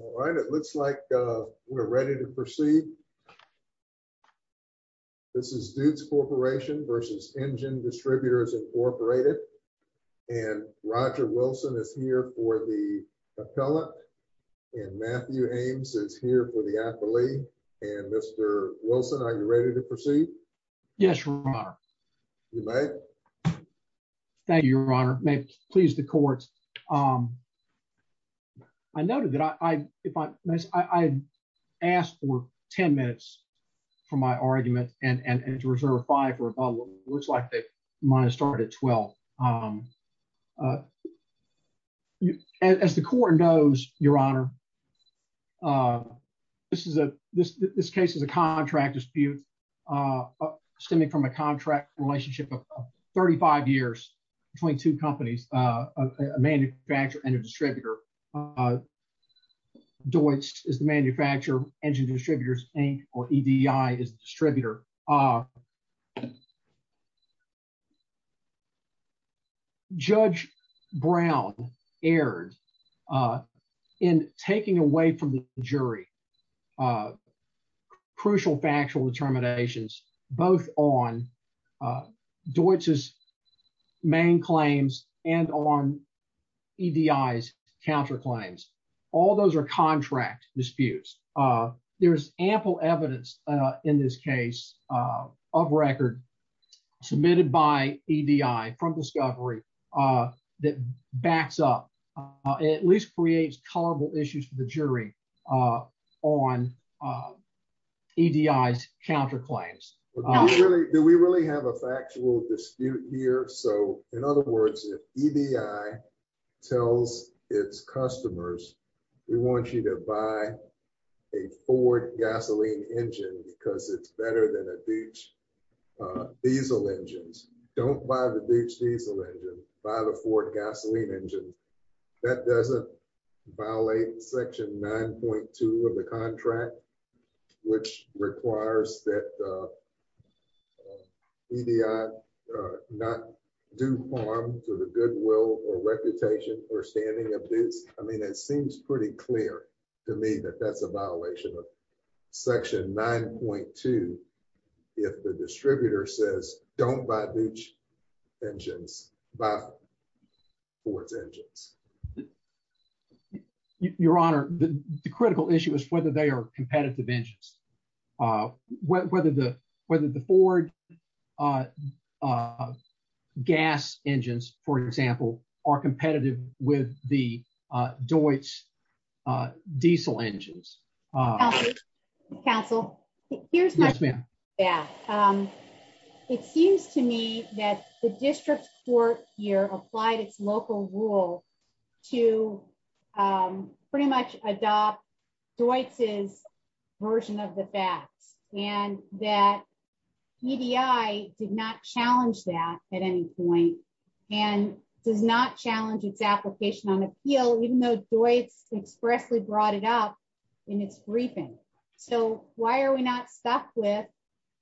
All right, it looks like we're ready to proceed. This is Deutz Corporation v. Engine Distributors, Inc. and Roger Wilson is here for the appellate and Matthew Ames is here for the appellee. And Mr. Wilson, are you ready to proceed? Yes, Your Honor. You may. Thank you, Your Honor. May it please the court. I noted that I asked for 10 minutes for my argument and to reserve five for about what looks like they might have started at 12. As the court knows, Your Honor, this case is a contract dispute stemming from a contract relationship of 35 years between two companies, a manufacturer and a distributor. Deutz is the manufacturer, Engine Distributors, Inc. or EDI is the distributor. Judge Brown erred in taking away from the jury crucial factual determinations both on Deutz's main claims and on EDI's counterclaims. All those are contract disputes. There's ample evidence in this case of record submitted by EDI from Discovery that backs up, at least creates tolerable issues for the jury on EDI's counterclaims. Do we really have a factual dispute here? So in other words, if EDI tells its customers, we want you to buy a Ford gasoline engine because it's better than a Deutz diesel engine, don't buy the Deutz diesel engine, buy the Ford gasoline engine. That doesn't violate section 9.2 of the contract, which requires that EDI not do harm to the goodwill or reputation or standing of Deutz. I mean, it seems pretty clear to me that that's a violation of section 9.2 if the distributor says don't buy Deutz engines, buy Ford's engines. Your Honor, the critical issue is whether they are competitive engines, whether the Ford gas engines, for example, are competitive with the Deutz diesel engines. Counsel, here's my question. It seems to me that the district court here applied its local rule to pretty much adopt Deutz's version of the facts and that EDI did not challenge that at any point and does not challenge its application on appeal, even though Deutz expressly brought it up in its briefing. So why are we not stuck with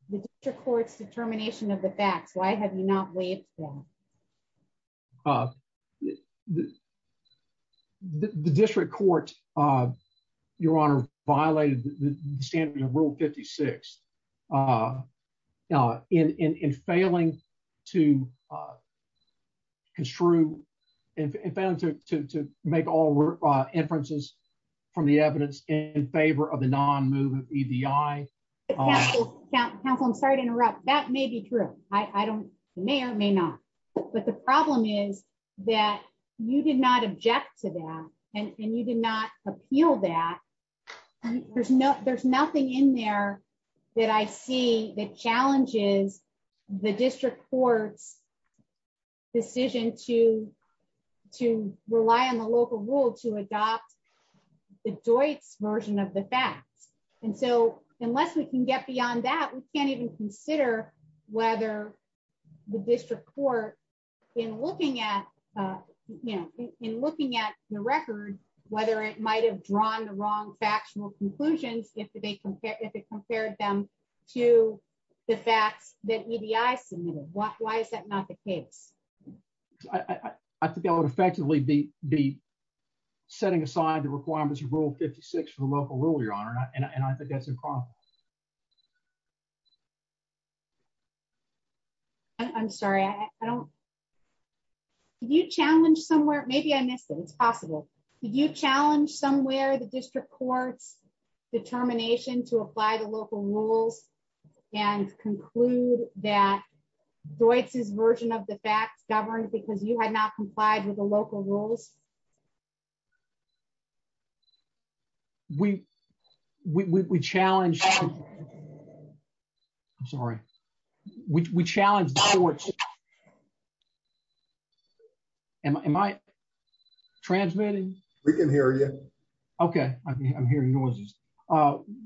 the district court's determination of the facts? Why have you not waived that? The district court, Your Honor, violated the standards of rule 56 in failing to make all inferences from the evidence in favor of the non-movement of EDI. Counsel, I'm sorry to interrupt. That may be true. It may or may not. But the problem is that you did not object to that and you did not appeal that. There's nothing in there that I see that challenges the district court's decision to rely on the local rule to adopt the Deutz version of the facts. And so unless we can get beyond that, we can't even consider whether the district court, in looking at the record, whether it might have drawn the wrong factional conclusions if it compared them to the facts that EDI submitted. Why is that not the case? I think I would effectively be setting aside the requirements of rule 56 for local rule, Your Honor. And I think that's a problem. I'm sorry. I don't. Did you challenge somewhere? Maybe I missed it. It's possible. Did you challenge somewhere the district court's determination to apply the local rules and conclude that Deutz's version of the facts governed because you had not complied with the local rules? We challenged. I'm sorry. We challenged the courts. Am I transmitting? We can hear you. Okay. I'm hearing noises.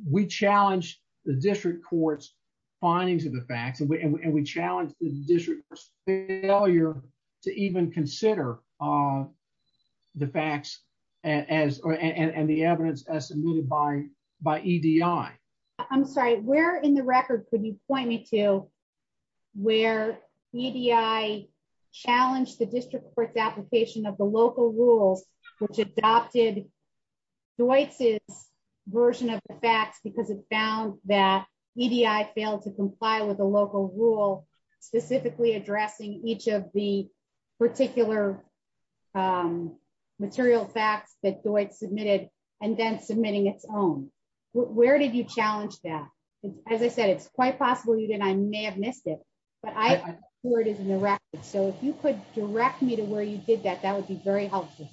We challenged the district court's findings of the facts and we challenged the district court's failure to even consider the facts and the evidence estimated by EDI. I'm sorry. Where in the record could you point me to where EDI challenged the district court's application of the local rules which adopted Deutz's version of the facts because it found that EDI failed to comply with the local rule specifically addressing each of the particular material facts that Deutz submitted and then submitting its own? Where did you challenge that? As I said, it's quite possible you didn't. I may have missed it, but I'm sure it is in the record. So if you could direct me to where you did that, that would be very helpful.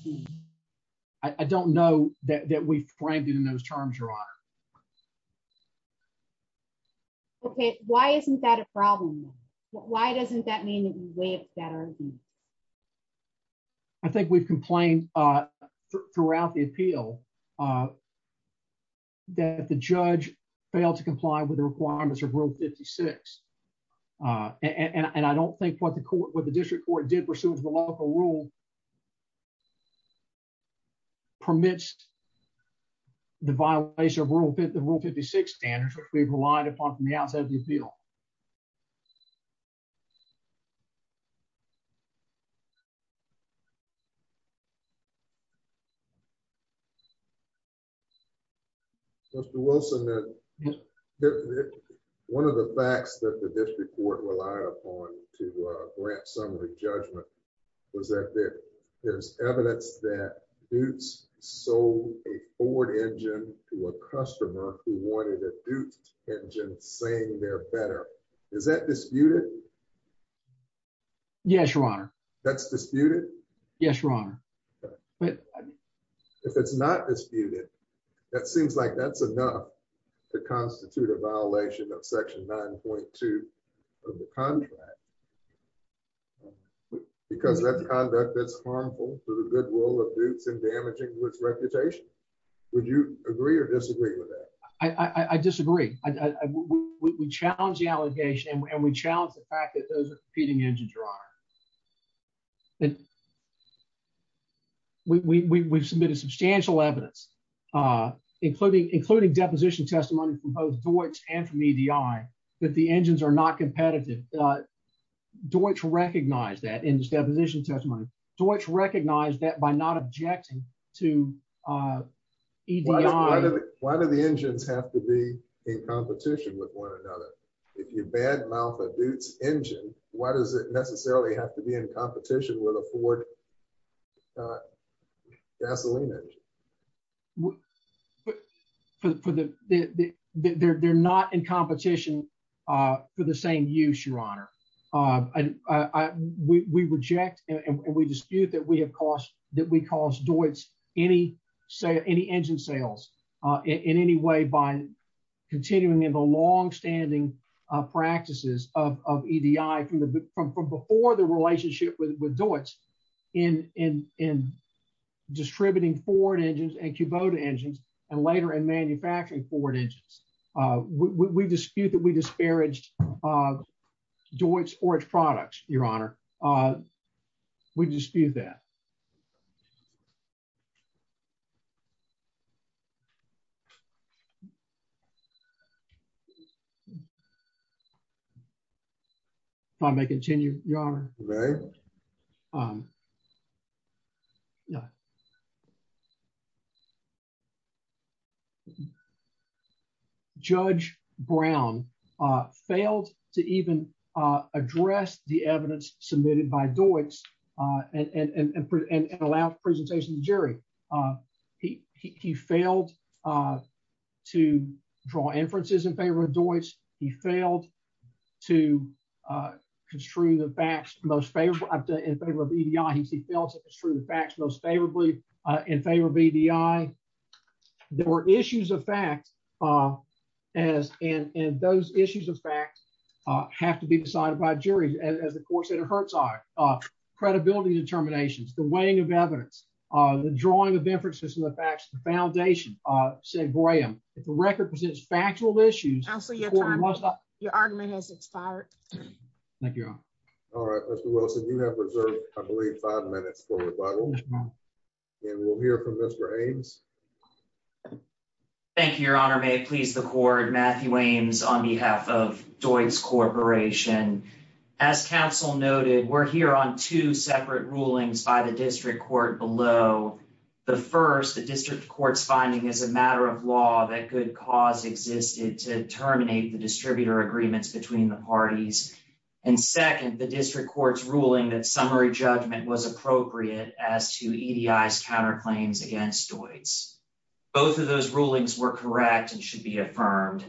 I don't know that we framed it in those terms, Your Honor. Okay. Why isn't that a problem? Why doesn't that mean that we waived that argument? I think we've complained throughout the appeal that the judge failed to comply with the requirements of Rule 56. And I don't think what the court, what the district court did pursuant to the local rule permits the violation of Rule 56 standards which we've relied upon from the outside of the appeal. Mr. Wilson, one of the facts that the district court relied upon to grant summary judgment was that there's evidence that Deutz sold a Ford engine to a customer who wanted a Deutz engine saying they're better. Is that disputed? Yes, Your Honor. That's disputed? Yes, Your Honor. If it's not disputed, that seems like that's enough to constitute a violation of Section 9.2 of the contract because that conduct is harmful to the goodwill of Deutz and damaging to its reputation. Would you agree or disagree with that? I disagree. We challenge the allegation and we challenge the fact that those are competing from both Deutz and from EDI, that the engines are not competitive. Deutz recognized that in his deposition testimony. Deutz recognized that by not objecting to EDI. Why do the engines have to be in competition with one another? If you bad mouth a Deutz engine, why does it necessarily have to be in competition with a Ford gasoline engine? They're not in competition for the same use, Your Honor. We reject and we dispute that we have caused Deutz any engine sales in any way by continuing in the long-standing practices of EDI from before the relationship with Deutz in distributing Ford engines and Kubota engines and later in manufacturing Ford engines. We dispute that we disparaged of Deutz or its products, Your Honor. We dispute that. If I may continue, Your Honor. May I? Judge Brown failed to even address the evidence submitted by Deutz and allow presentation to in favor of EDI. He failed to construe the facts most favorably in favor of EDI. There were issues of fact and those issues of fact have to be decided by a jury as the court said it hurts our credibility determinations, the weighing of evidence, the drawing of inferences from the facts, the foundation, said Graham. If the record presents factual issues, Your argument has expired. Thank you, Your Honor. All right, Mr. Wilson, you have reserved, I believe, five minutes for rebuttal and we'll hear from Mr. Ames. Thank you, Your Honor. May it please the court. Matthew Ames on behalf of Deutz Corporation. As counsel noted, we're here on two separate rulings by the district court below. The first, the district court's finding is a matter of law that good cause existed to ruling that summary judgment was appropriate as to EDI's counterclaims against Deutz. Both of those rulings were correct and should be affirmed.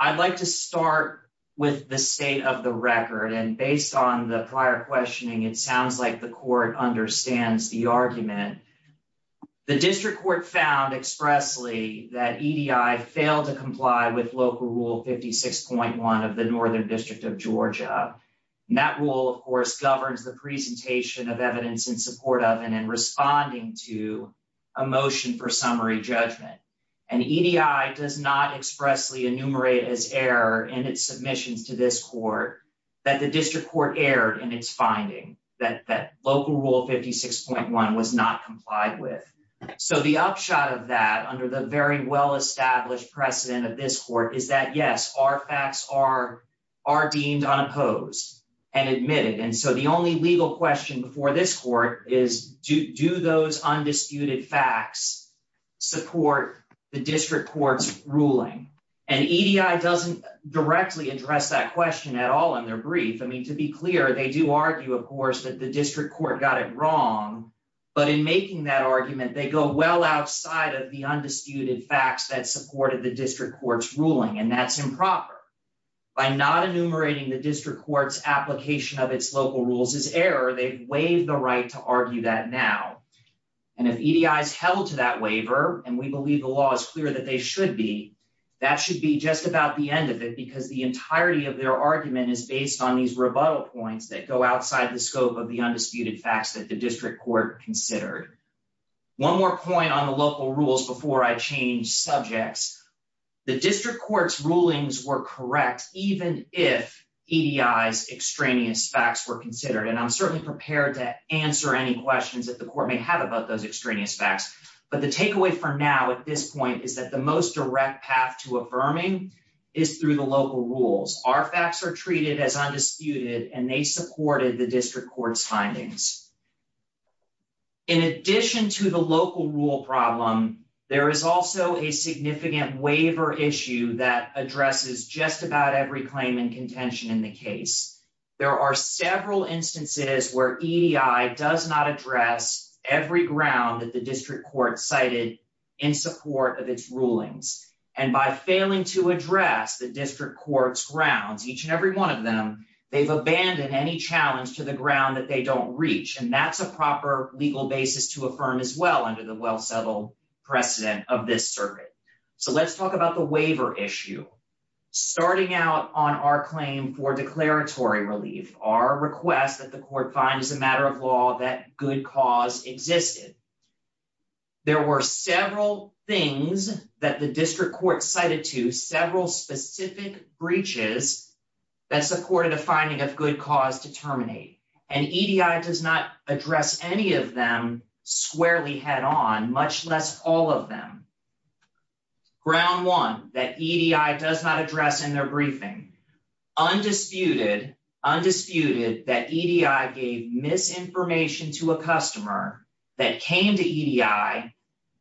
I'd like to start with the state of the record and based on the prior questioning, it sounds like the court understands the argument. The district court found expressly that EDI failed to comply with local rule 56.1 of the EDI. That rule, of course, governs the presentation of evidence in support of and in responding to a motion for summary judgment. And EDI does not expressly enumerate as error in its submissions to this court that the district court erred in its finding that local rule 56.1 was not complied with. So the upshot of that under the very well-established precedent of this court is that, yes, our facts are deemed unopposed and admitted. And so the only legal question before this court is do those undisputed facts support the district court's ruling? And EDI doesn't directly address that question at all in their brief. I mean, to be clear, they do argue, of course, that the district court got it wrong. But in making that argument, they go well outside of the undisputed facts that supported the district court's ruling. And that's improper. By not enumerating the district court's application of its local rules as error, they've waived the right to argue that now. And if EDI is held to that waiver, and we believe the law is clear that they should be, that should be just about the end of it because the entirety of their argument is based on these rebuttal points that go outside the scope of the undisputed facts that the district court considered. One more point on the local rules before I change subjects. The district court's rulings were correct, even if EDI's extraneous facts were considered. And I'm certainly prepared to answer any questions that the court may have about those extraneous facts. But the takeaway for now at this point is that the most direct path to affirming is through the local rules. Our facts are treated as undisputed, and they supported the district court's findings. In addition to the local rule problem, there is also a significant waiver issue that addresses just about every claim and contention in the case. There are several instances where EDI does not address every ground that the district court cited in support of its rulings. And by failing to address the district court's grounds, each and every one of them, they've And that's a proper legal basis to affirm as well under the well-settled precedent of this circuit. So let's talk about the waiver issue. Starting out on our claim for declaratory relief, our request that the court find as a matter of law that good cause existed. There were several things that the district court cited to, several specific breaches that supported a finding of good cause to terminate. And EDI does not address any of them squarely head on, much less all of them. Ground one, that EDI does not address in their briefing. Undisputed that EDI gave misinformation to a customer that came to EDI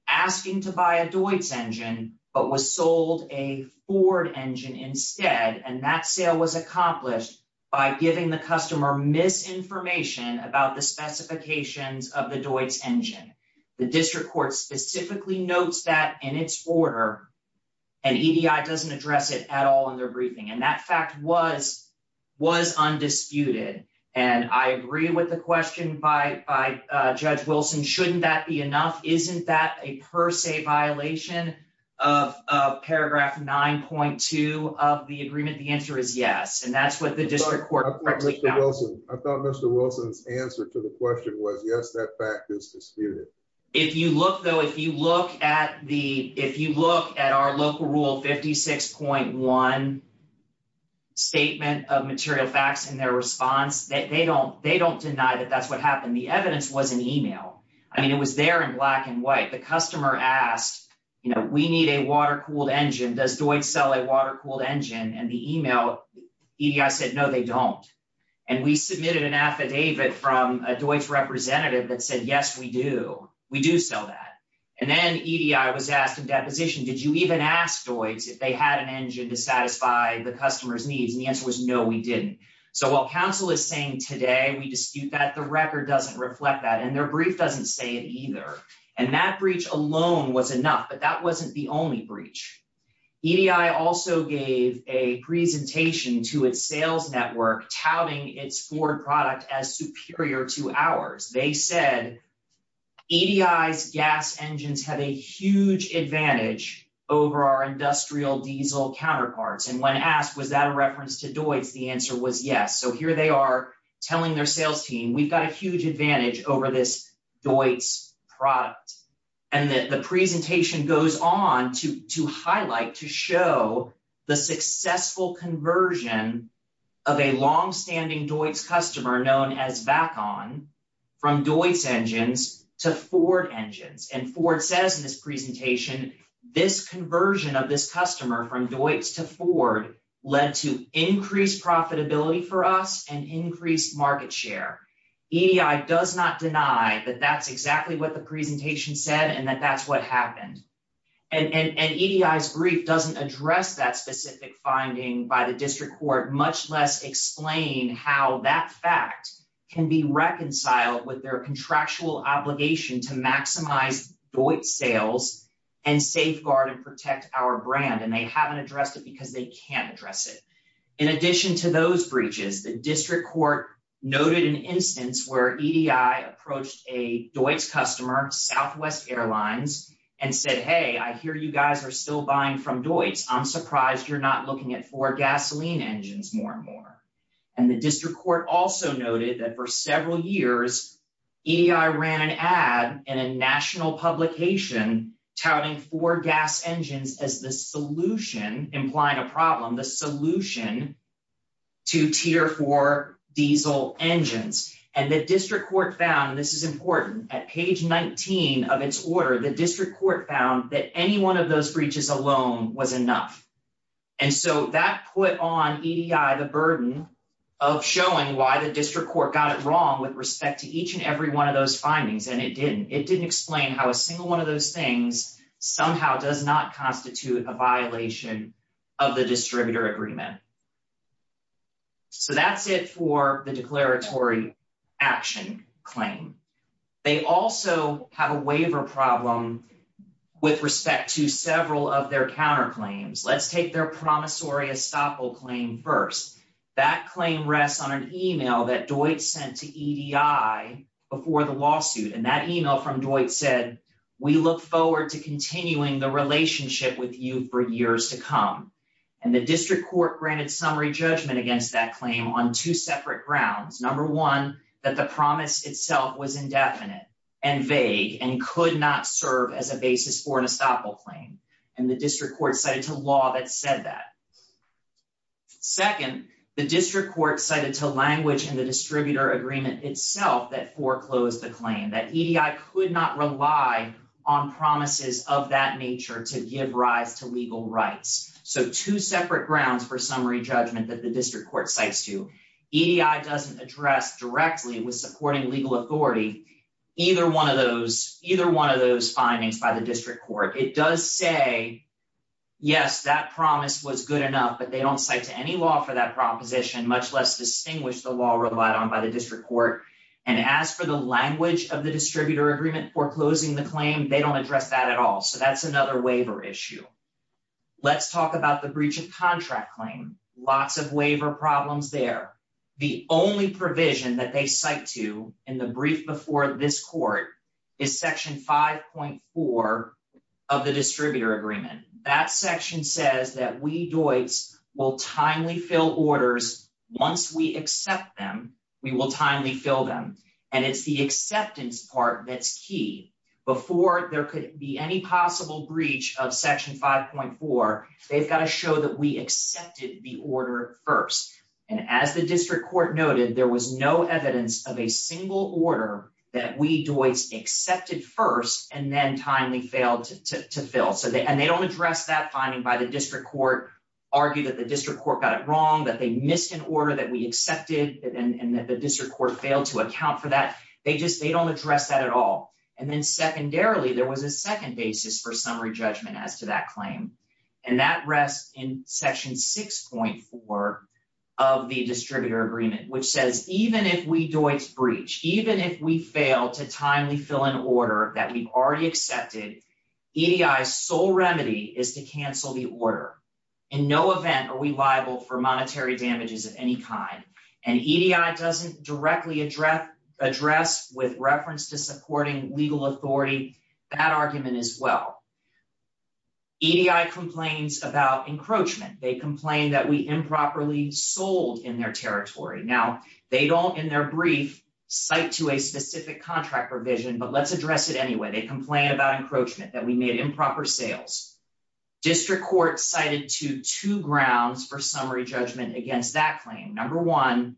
asking to buy a Deutz engine, but was sold a Ford engine instead. And that sale was accomplished by giving the customer misinformation about the specifications of the Deutz engine. The district court specifically notes that in its order, and EDI doesn't address it at all in their briefing. And that fact was undisputed. And I agree with the question by Judge Wilson, shouldn't that be enough? Isn't that a per se violation of paragraph 9.2 of the agreement? The answer is yes. And that's what the district court. I thought Mr. Wilson's answer to the question was yes, that fact is disputed. If you look though, if you look at the, if you look at our local rule 56.1 statement of material facts and their response that they don't, they don't deny that that's what happened. The evidence was an email. I mean, it was there in black and white. The customer asked, you know, we need a water-cooled engine. Does Deutz sell a water-cooled engine? And the email EDI said, no, they don't. And we submitted an affidavit from a Deutz representative that said, yes, we do. We do sell that. And then EDI was asked in deposition, did you even ask Deutz if they had an engine to satisfy the customer's needs? And the answer was no, we didn't. So while council is saying today, we dispute that, the record doesn't reflect that. And their brief doesn't say it either. And that breach alone was enough, but that wasn't the only breach. EDI also gave a presentation to its sales network touting its Ford product as superior to ours. They said EDI's gas engines have a huge advantage over our industrial diesel counterparts. And when asked, was that a reference to Deutz? The answer was yes. So here they are telling their sales team, we've got a huge advantage over this Deutz product. And the presentation goes on to highlight, to show the successful conversion of a long standing Deutz customer known as Vacon from Deutz engines to Ford engines. And Ford says in this presentation, this conversion of this customer from Deutz to Ford led to increased profitability for us and increased market share. EDI does not deny that that's exactly what the presentation said and that that's what happened. And EDI's brief doesn't address that specific finding by the district court, much less explain how that fact can be reconciled with their contractual obligation to maximize Deutz sales and safeguard and protect our brand. And they haven't addressed it because they can't address it. In addition to those breaches, the district court noted an instance where EDI approached a Deutz customer, Southwest Airlines, and said, hey, I hear you guys are still buying from Deutz. I'm surprised you're not looking at Ford gasoline engines more and more. And the district court also noted that for several years, EDI ran an ad in a national publication touting Ford gas engines as the solution, implying a problem, the solution to tier four diesel engines. And the district court found this is important. At page 19 of its order, the district court found that any one of those breaches alone was enough. And so that put on EDI the burden of showing why the district court got it wrong with respect to each and every one of those findings. And it didn't. It didn't explain how a single one of those things somehow does not constitute a violation of the distributor agreement. So that's it for the declaratory action claim. They also have a waiver problem with respect to several of their counterclaims. Let's take their promissory estoppel claim first. That claim rests on an email that Deutz sent to EDI before the lawsuit. And that email from Deutz said, we look forward to continuing the relationship with you for years to come. And the district court granted summary judgment against that claim on two separate grounds. Number one, that the promise itself was indefinite and vague and could not serve as a basis for an estoppel claim. And the district court cited a law that said that. Second, the district court cited to language in the distributor agreement itself that foreclosed the claim. That EDI could not rely on promises of that nature to give rise to legal rights. So two separate grounds for summary judgment that the district court cites to. EDI doesn't address directly with supporting legal authority either one of those findings by the district court. It does say, yes, that promise was good enough, but they don't cite to any law for that proposition, much less distinguish the law relied on by the district court. And as for the language of the distributor agreement foreclosing the claim, they don't address that at all. So that's another waiver issue. Let's talk about the breach of contract claim. Lots of waiver problems there. The only provision that they cite to in the brief before this court is section 5.4 of the distributor agreement. That section says that we do it will timely fill orders. Once we accept them, we will timely fill them. And it's the acceptance part that's key before there could be any possible breach of section 5.4. They've got to show that we accepted the order first. And as the district court noted, there was no evidence of a single order that we do is accepted first and then timely failed to fill. So they and they don't address that finding by the district court, argue that the district court got it wrong, that they missed an order that we accepted and that the district court failed to account for that. They just they don't address that at all. And then secondarily, there was a second basis for summary judgment as to that claim. And that rests in section 6.4 of the distributor agreement, which says even if we do it's breach, even if we fail to timely fill an order that we've already accepted, EDI's sole remedy is to cancel the order. In no event are we liable for monetary damages of any kind. And EDI doesn't directly address address with reference to supporting legal authority. That argument as well. EDI complains about encroachment. They complain that we improperly sold in their territory. Now, they don't in their brief cite to a specific contract provision, but let's address it anyway. They complain about encroachment, that we made improper sales. District court cited to two grounds for summary judgment against that claim. Number one,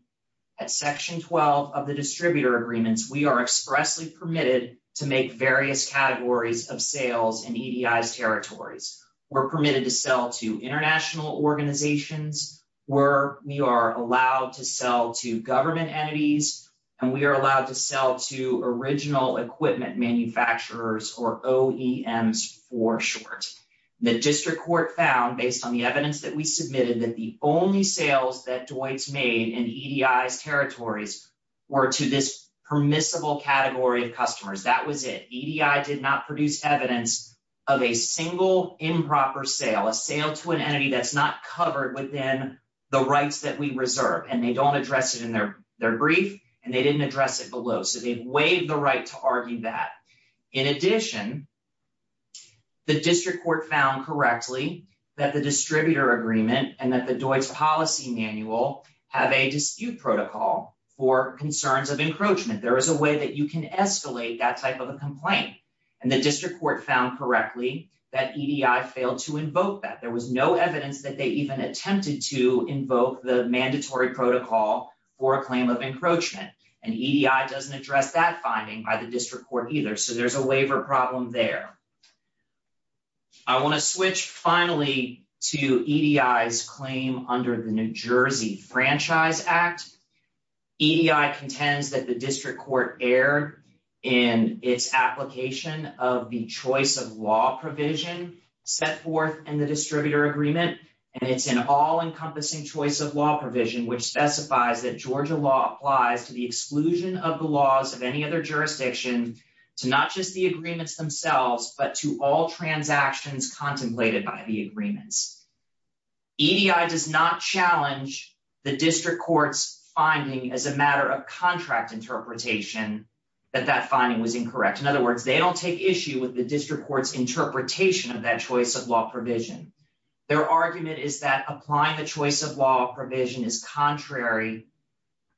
at section 12 of the distributor agreements, we are expressly permitted to various categories of sales in EDI's territories. We're permitted to sell to international organizations, where we are allowed to sell to government entities, and we are allowed to sell to original equipment manufacturers or OEMs for short. The district court found based on the evidence that we submitted that the only sales that Dwight's made in EDI's territories were to this permissible category of customers. That was it. EDI did not produce evidence of a single improper sale, a sale to an entity that's not covered within the rights that we reserve. And they don't address it in their brief, and they didn't address it below. So they waived the right to argue that. In addition, the district court found correctly that the distributor agreement and that the Dwight's policy manual have a dispute protocol for concerns of encroachment. There is a way that you can escalate that type of a complaint. And the district court found correctly that EDI failed to invoke that. There was no evidence that they even attempted to invoke the mandatory protocol for a claim of encroachment. And EDI doesn't address that finding by the district court either. So there's a waiver problem there. I want to switch finally to EDI's claim under the New Jersey Franchise Act. EDI contends that the district court erred in its application of the choice of law provision set forth in the distributor agreement. And it's an all-encompassing choice of law provision which specifies that Georgia law applies to the exclusion of the laws of any other jurisdiction to not just the agreements themselves, but to all transactions contemplated by the agreements. EDI does not challenge the district court's finding as a matter of contract interpretation that that finding was incorrect. In other words, they don't take issue with the district court's interpretation of that choice of law provision. Their argument is that applying the choice of law provision is contrary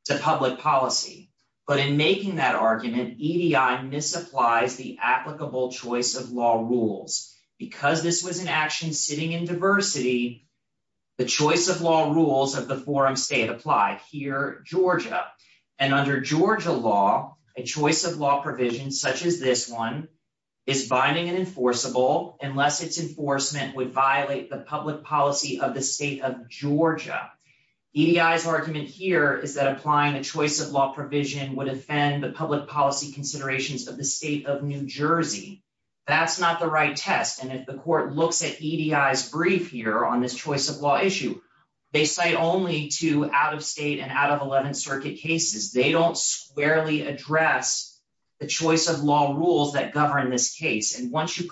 to public policy. But in making that argument, EDI misapplies the applicable choice of law rules. Because this was an action sitting in diversity, the choice of law rules of the forum state applied here, Georgia. And under Georgia law, a choice of law provision such as this one is binding and enforceable unless its enforcement would violate the public policy of the state of Georgia. EDI's argument here is that applying the choice of law provision would offend the public policy considerations of the state of New Jersey. That's not the right test. And if the court looks at EDI's brief here on this choice of law issue, they cite only two out-of-state and out-of-11th circuit cases. They don't squarely address the choice of law rules that govern this case. And once you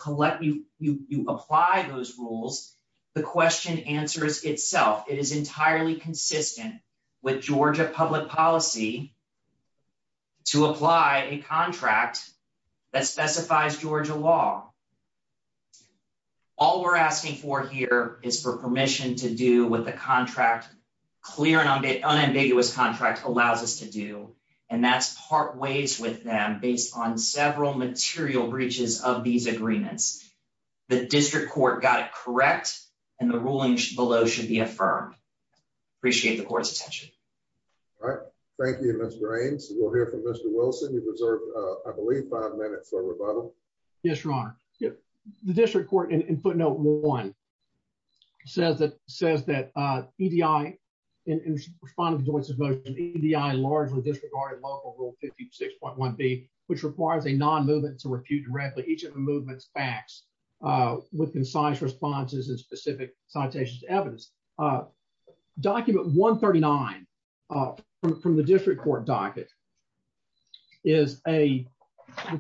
apply those rules, the question answers itself. It is entirely consistent with Georgia public policy to apply a contract that specifies Georgia law. All we're asking for here is for permission to do what the contract, clear and unambiguous contract allows us to do. And that's part ways with them based on several material breaches of these agreements. The district court got it correct. And the ruling below should be affirmed. Appreciate the court's attention. All right. Thank you, Mr. Raines. We'll hear from Mr. Wilson. You've reserved, I believe, five minutes for a rebuttal. Yes, Your Honor. The district court in footnote one says that EDI largely disregarded local rule 56.1b, which requires a non-movement to refute directly each of the movement's facts with concise responses and specific citations to evidence. A document 139 from the district court docket is a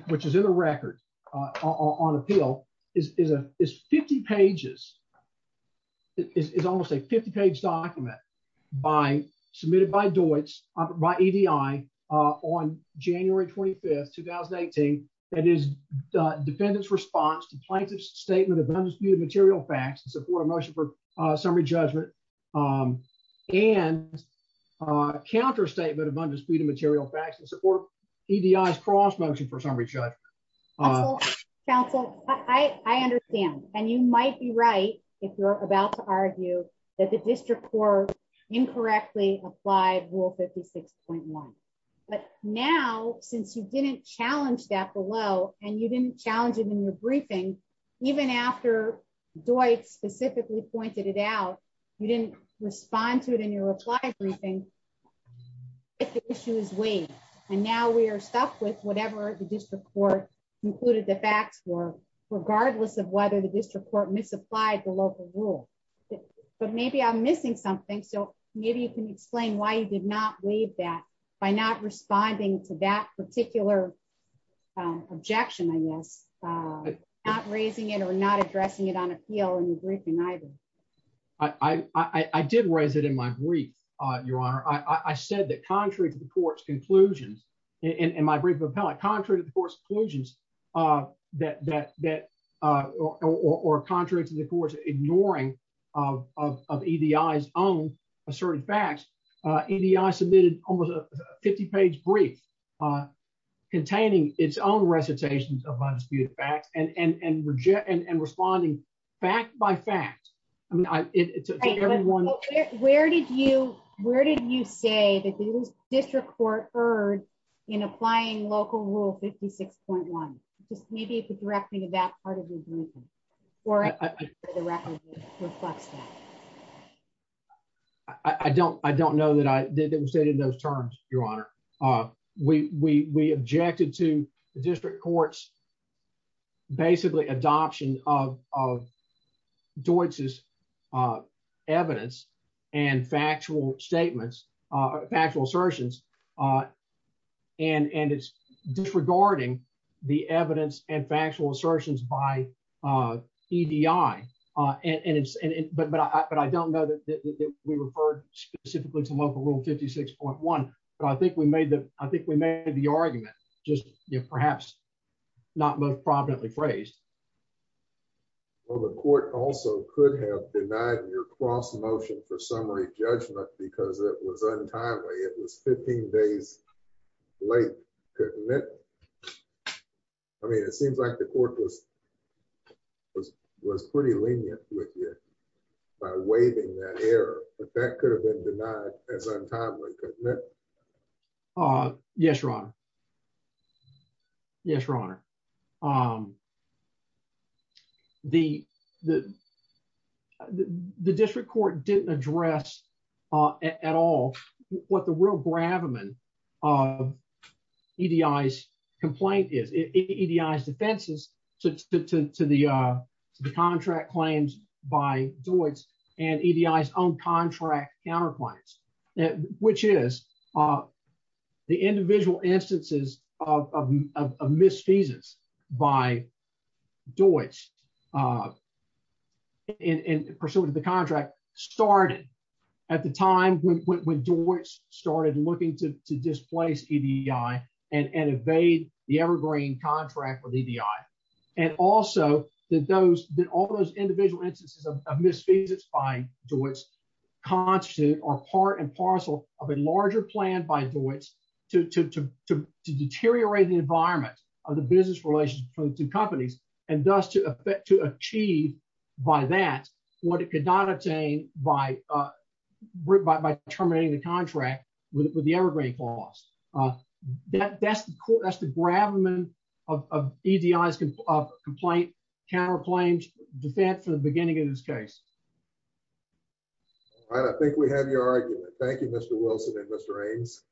which is in the record on appeal is 50 pages. It's almost a 50 page document by submitted by Deutz by EDI on January 25th, 2018. That is the defendant's response to plaintiff's statement of undisputed material facts in motion for summary judgment and counterstatement of undisputed material facts and support EDI's cross motion for summary judgment. Counsel, I understand. And you might be right if you're about to argue that the district court incorrectly applied rule 56.1. But now, since you didn't challenge that below and you didn't challenge it in your briefing, even after Deutz specifically pointed it out, you didn't respond to it in your reply briefing. If the issue is waived, and now we are stuck with whatever the district court included the facts were, regardless of whether the district court misapplied the local rule. But maybe I'm missing something. So maybe you can explain why you did not waive that by not responding to that particular objection, I guess. Not raising it or not addressing it on appeal in the briefing, either. I did raise it in my brief, Your Honor. I said that contrary to the court's conclusions, in my brief appellate, contrary to the court's conclusions, or contrary to the court's ignoring of EDI's own asserted facts, EDI submitted almost a 50-page brief containing its own recitations of undisputed facts and responding fact by fact. Where did you say that the district court erred in applying local rule 56.1? Just maybe the directing of that part of your briefing or the record reflects that. I don't know that it was stated in those terms, Your Honor. We objected to the district court's basically adoption of Deutz's evidence and factual statements, factual assertions. And it's disregarding the evidence and factual assertions by EDI. And but I don't know that we referred specifically to local rule 56.1. But I think we made the argument, just perhaps not most prominently phrased. Well, the court also could have denied your cross-motion for summary judgment because it was untimely. It was 15 days late. Couldn't it? I mean, it seems like the court was pretty lenient with you by waiving that error. But that could have been denied as untimely, couldn't it? Yes, Your Honor. Yes, Your Honor. But the district court didn't address at all what the real gravamen of EDI's complaint is, EDI's defenses to the contract claims by Deutz and EDI's own contract counterclaims, which is the individual instances of misfeasance by Deutz in pursuit of the contract started at the time when Deutz started looking to displace EDI and evade the evergreen contract with EDI. And also that all those individual instances of misfeasance by Deutz constitute or are in parcel of a larger plan by Deutz to deteriorate the environment of the business relations between the two companies and thus to achieve by that what it could not obtain by terminating the contract with the evergreen clause. That's the gravamen of EDI's complaint, counterclaims defense for the beginning of this case. All right, I think we have your argument. Thank you, Mr. Wilson and Mr. Ames.